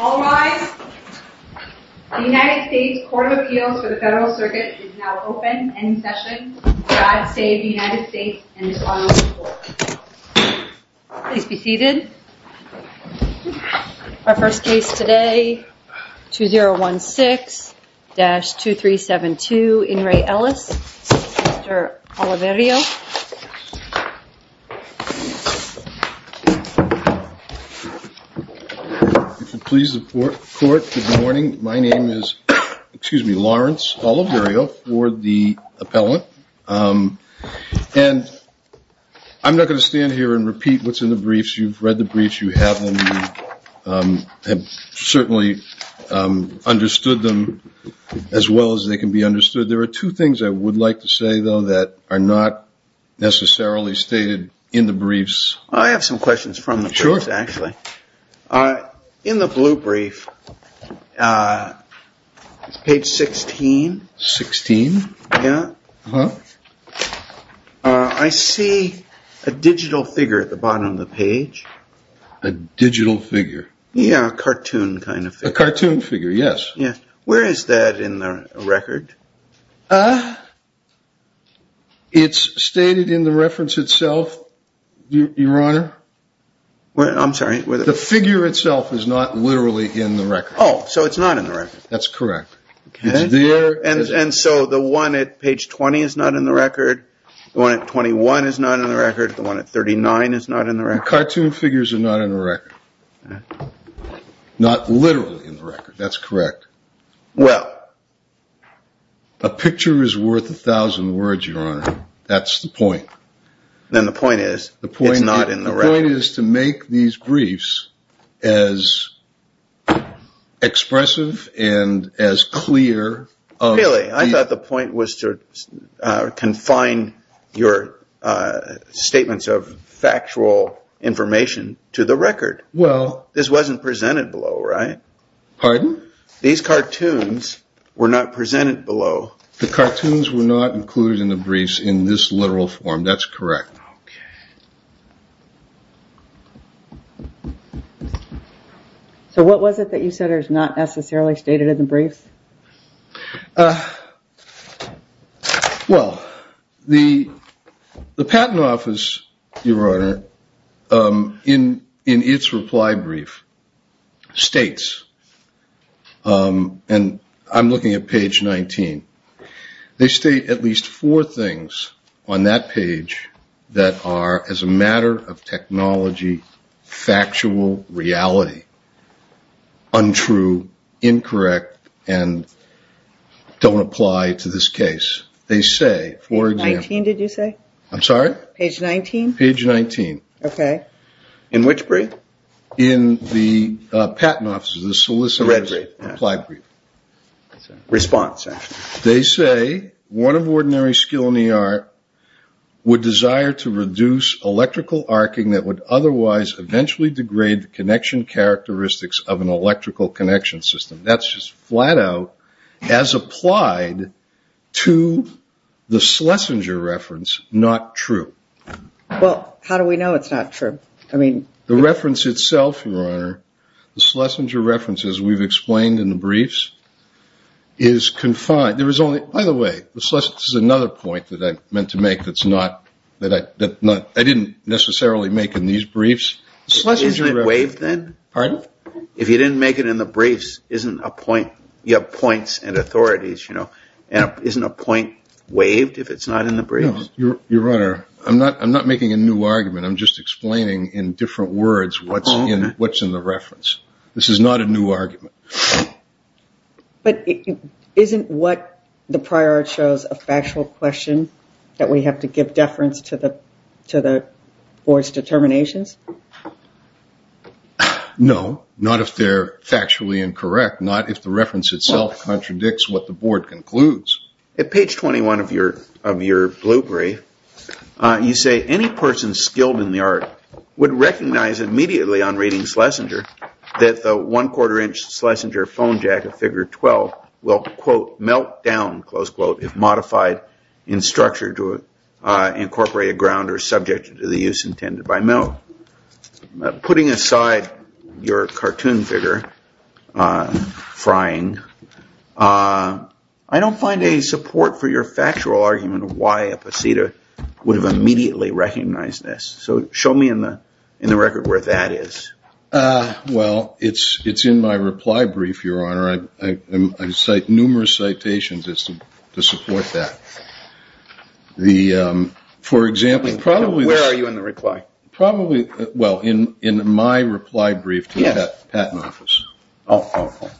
All rise. The United States Court of Appeals for the Federal Circuit is now open. End session. God save the United States and His Honorable Court. Please be seated. Our first case today, 2016-2372, In Re Ellis, Mr. Oliverio. If you'll please the court, good morning. My name is, excuse me, Lawrence Oliverio, for the appellant. And I'm not going to stand here and repeat what's in the briefs. You've read the briefs. You have them. You have certainly understood them as well as they can be understood. There are two things I would like to say, though, that are not necessarily stated in the briefs. I have some questions from the truth, actually. In the blue brief, page 16, 16. I see a digital figure at the bottom of the page. A digital figure. Yeah, a cartoon kind of a cartoon figure. Yes. Yeah. Where is that in the record? It's stated in the reference itself. Your Honor. Well, I'm sorry. The figure itself is not literally in the record. Oh, so it's not in the record. That's correct. And so the one at page 20 is not in the record. The one at 21 is not in the record. The one at 39 is not in the record. Cartoon figures are not in the record. Not literally in the record. That's correct. Well, a picture is worth a thousand words, Your Honor. That's the point. Then the point is the point is not in the right is to make these briefs as expressive and as clear. I thought the point was to confine your statements of factual information to the record. Well, this wasn't presented below. Right. Pardon. These cartoons were not presented below. The cartoons were not included in the briefs in this literal form. That's correct. OK. So what was it that you said is not necessarily stated in the brief? Well, the the Patent Office, Your Honor, in in its reply brief states and I'm looking at page 19. They state at least four things on that page that are, as a matter of technology, factual reality, untrue, incorrect, and don't apply to this case. They say, for example. Page 19 did you say? I'm sorry? Page 19? Page 19. OK. In which brief? In the Patent Office, the solicitor reply brief. Response. They say one of ordinary skill in the art would desire to reduce electrical arcing that would otherwise eventually degrade the connection characteristics of an electrical connection system. That's just flat out as applied to the Schlesinger reference. Not true. Well, how do we know it's not true? I mean, the reference itself, Your Honor. The Schlesinger references we've explained in the briefs is confined. There is only by the way, this is another point that I meant to make. That's not that I didn't necessarily make in these briefs. Schlesinger waived then. Pardon. If you didn't make it in the briefs, isn't a point. You have points and authorities, you know, isn't a point waived if it's not in the brief. Your Honor, I'm not making a new argument. I'm just explaining in different words what's in the reference. This is not a new argument. But isn't what the prior shows a factual question that we have to give deference to the board's determinations? No, not if they're factually incorrect, not if the reference itself contradicts what the board concludes. At page 21 of your of your blue brief, you say any person skilled in the art would recognize immediately on reading Schlesinger that the one quarter inch Schlesinger phone jack of figure 12 will, quote, melt down, close quote, if modified in structure to incorporate a ground or subject to the use intended by milk. Putting aside your cartoon figure frying, I don't find a support for your factual argument of why a procedure would have immediately recognized this. So show me in the in the record where that is. Well, it's it's in my reply brief. Your Honor, I cite numerous citations to support that. The for example, probably where are you in the reply? Probably. Well, in in my reply brief to the patent office. Oh,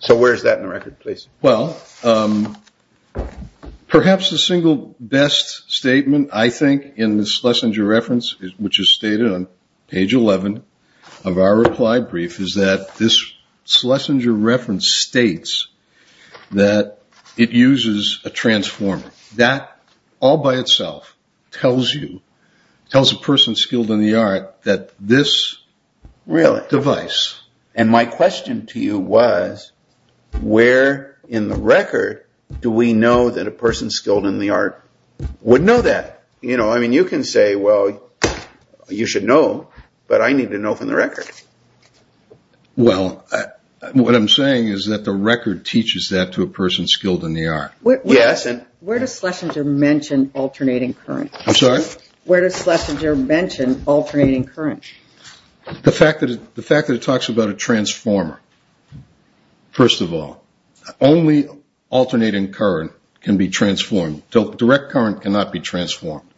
so where is that in the record, please? Well, perhaps the single best statement, I think, in the Schlesinger reference, which is stated on page 11 of our reply brief, is that this Schlesinger reference states that it uses a transformer. That all by itself tells you tells a person skilled in the art that this really device. And my question to you was, where in the record do we know that a person skilled in the art would know that? You know, I mean, you can say, well, you should know, but I need to know from the record. Well, what I'm saying is that the record teaches that to a person skilled in the art. Yes. And where does Schlesinger mention alternating current? I'm sorry. Where does Schlesinger mention alternating current? The fact that the fact that it talks about a transformer. First of all, only alternating current can be transformed to direct current cannot be transformed.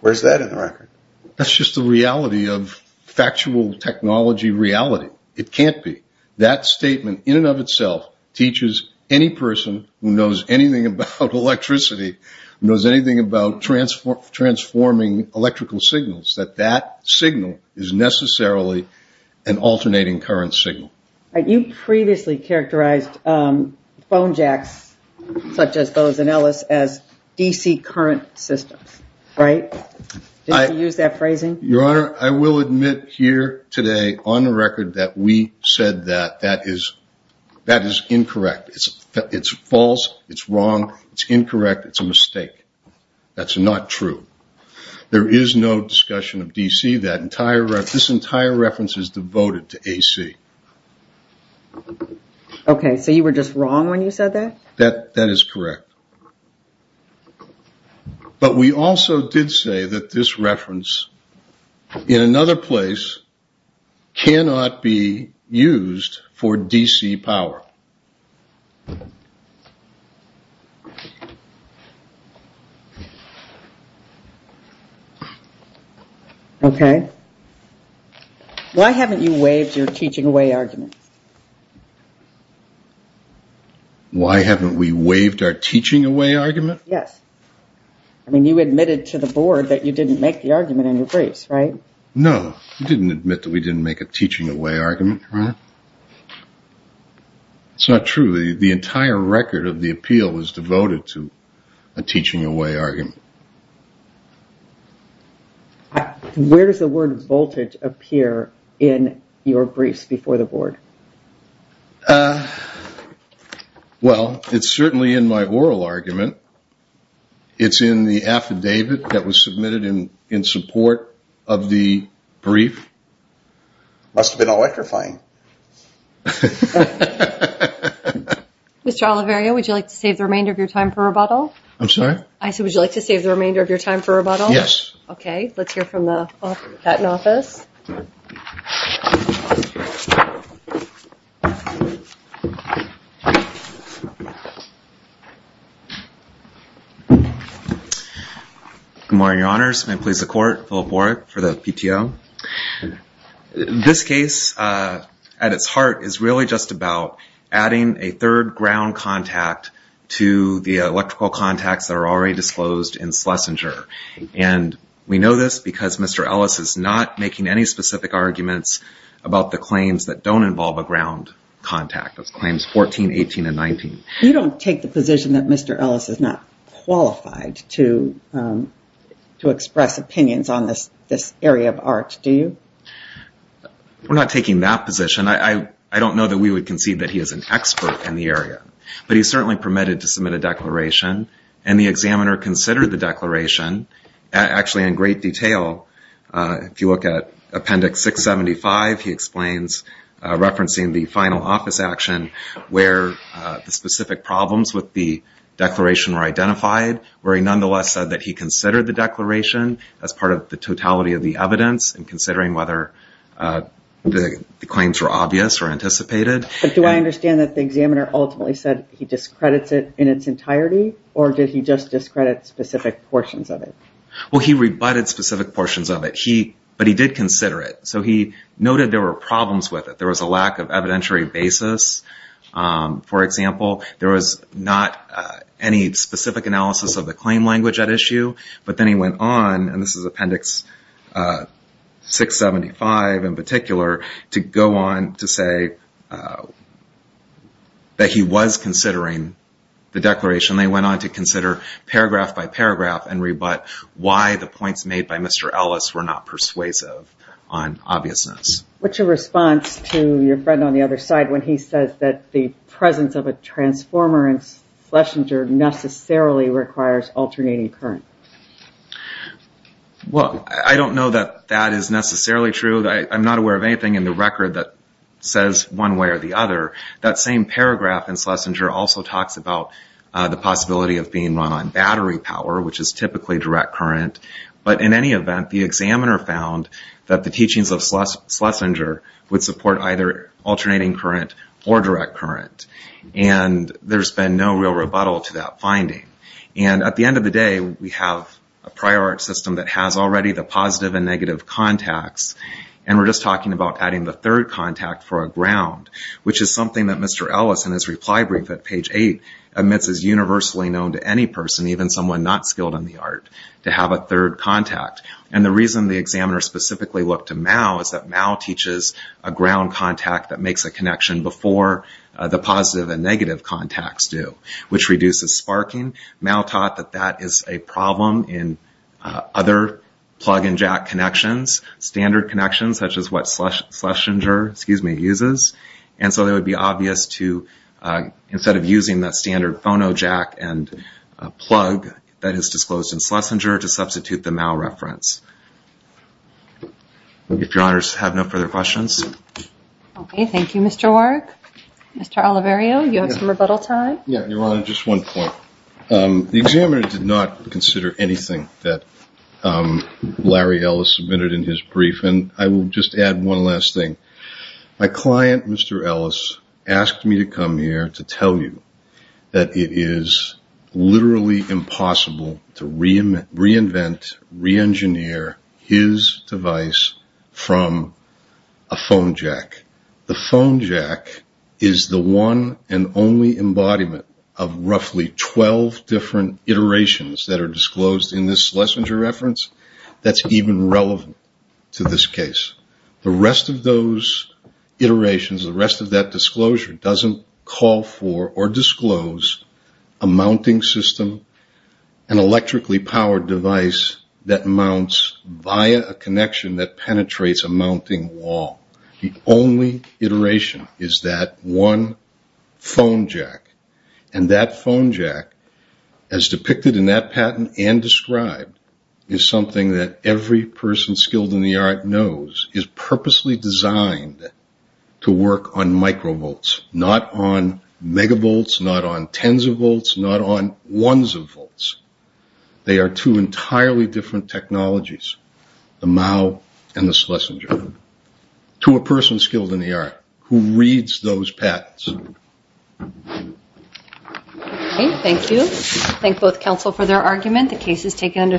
Where's that in the record? That's just the reality of factual technology reality. It can't be that statement in and of itself teaches any person who knows anything about electricity, knows anything about transform transforming electrical signals, that that signal is necessarily an alternating current signal. You previously characterized phone jacks such as those and Ellis as DC current systems. Right. I use that phrasing. Your Honor, I will admit here today on the record that we said that that is that is incorrect. It's false. It's wrong. It's incorrect. It's a mistake. That's not true. There is no discussion of DC that entire this entire reference is devoted to AC. OK, so you were just wrong when you said that, that that is correct. But we also did say that this reference in another place cannot be used for DC power. OK. Why haven't you waived your teaching away argument? Why haven't we waived our teaching away argument? Yes. I mean, you admitted to the board that you didn't make the argument in your face, right? No, I didn't admit that we didn't make a teaching away argument. It's not true. The entire record of the appeal is devoted to a teaching away argument. Where does the word voltage appear in your briefs before the board? Well, it's certainly in my oral argument. It's in the affidavit that was submitted in in support of the brief. Must have been electrifying. Mr. Oliveria, would you like to save the remainder of your time for rebuttal? I'm sorry? I said, would you like to save the remainder of your time for rebuttal? Yes. OK, let's hear from the patent office. Good morning, your honors. May it please the court, Philip Warwick for the PTO. This case at its heart is really just about adding a third ground contact to the electrical contacts that are already disclosed in Schlesinger. And we know this because Mr. Ellis is not making any specific arguments about the claims that don't involve a ground contact. Claims 14, 18, and 19. You don't take the position that Mr. Ellis is not qualified to express opinions on this area of art, do you? We're not taking that position. I don't know that we would concede that he is an expert in the area. But he's certainly permitted to submit a declaration and the examiner considered the declaration actually in great detail. If you look at Appendix 675, he explains referencing the final office action where the specific problems with the declaration were identified, where he nonetheless said that he considered the declaration as part of the totality of the evidence and considering whether the claims were obvious or anticipated. But do I understand that the examiner ultimately said he discredits it in its entirety? Or did he just discredit specific portions of it? Well, he rebutted specific portions of it. But he did consider it. So he noted there were problems with it. There was a lack of evidentiary basis, for example. There was not any specific analysis of the claim language at issue. But then he went on, and this is Appendix 675 in particular, to go on to say that he was considering the declaration. They went on to consider paragraph by paragraph and rebut why the points made by Mr. Ellis were not persuasive on obviousness. What's your response to your friend on the other side when he says that the presence of a transformer in Schlesinger necessarily requires alternating current? Well, I don't know that that is necessarily true. I'm not aware of anything in the record that says one way or the other. That same paragraph in Schlesinger also talks about the possibility of being run on battery power, which is typically direct current. But in any event, the examiner found that the teachings of Schlesinger would support either alternating current or direct current. And there's been no real rebuttal to that finding. And at the end of the day, we have a prior art system that has already the positive and negative contacts, and we're just talking about adding the third contact for a ground, which is something that Mr. Ellis in his reply brief at page 8 admits is universally known to any person, even someone not skilled in the art, to have a third contact. And the reason the examiner specifically looked to Mao is that Mao teaches a ground contact that makes a connection before the positive and negative contacts do, which reduces sparking. Mao taught that that is a problem in other plug-and-jack connections, standard connections, such as what Schlesinger uses. And so it would be obvious to, instead of using that standard phono jack and plug that is disclosed in Schlesinger, to substitute the Mao reference. If your honors have no further questions. Okay, thank you, Mr. Warrick. Mr. Oliverio, you have some rebuttal time? Yeah, Your Honor, just one point. The examiner did not consider anything that Larry Ellis submitted in his brief, and I will just add one last thing. My client, Mr. Ellis, asked me to come here to tell you that it is literally impossible to reinvent, re-engineer his device from a phone jack. The phone jack is the one and only embodiment of roughly 12 different iterations that are disclosed in this Schlesinger reference that's even relevant to this case. The rest of those iterations, the rest of that disclosure, doesn't call for or disclose a mounting system, an electrically powered device that mounts via a connection that penetrates a mounting wall. The only iteration is that one phone jack. That phone jack, as depicted in that patent and described, is something that every person skilled in the art knows is purposely designed to work on microvolts, not on megavolts, not on tens of volts, not on ones of volts. They are two entirely different technologies, the Mao and the Schlesinger. To a person skilled in the art who reads those patents. Okay, thank you. Thank both counsel for their argument. The case is taken under submission.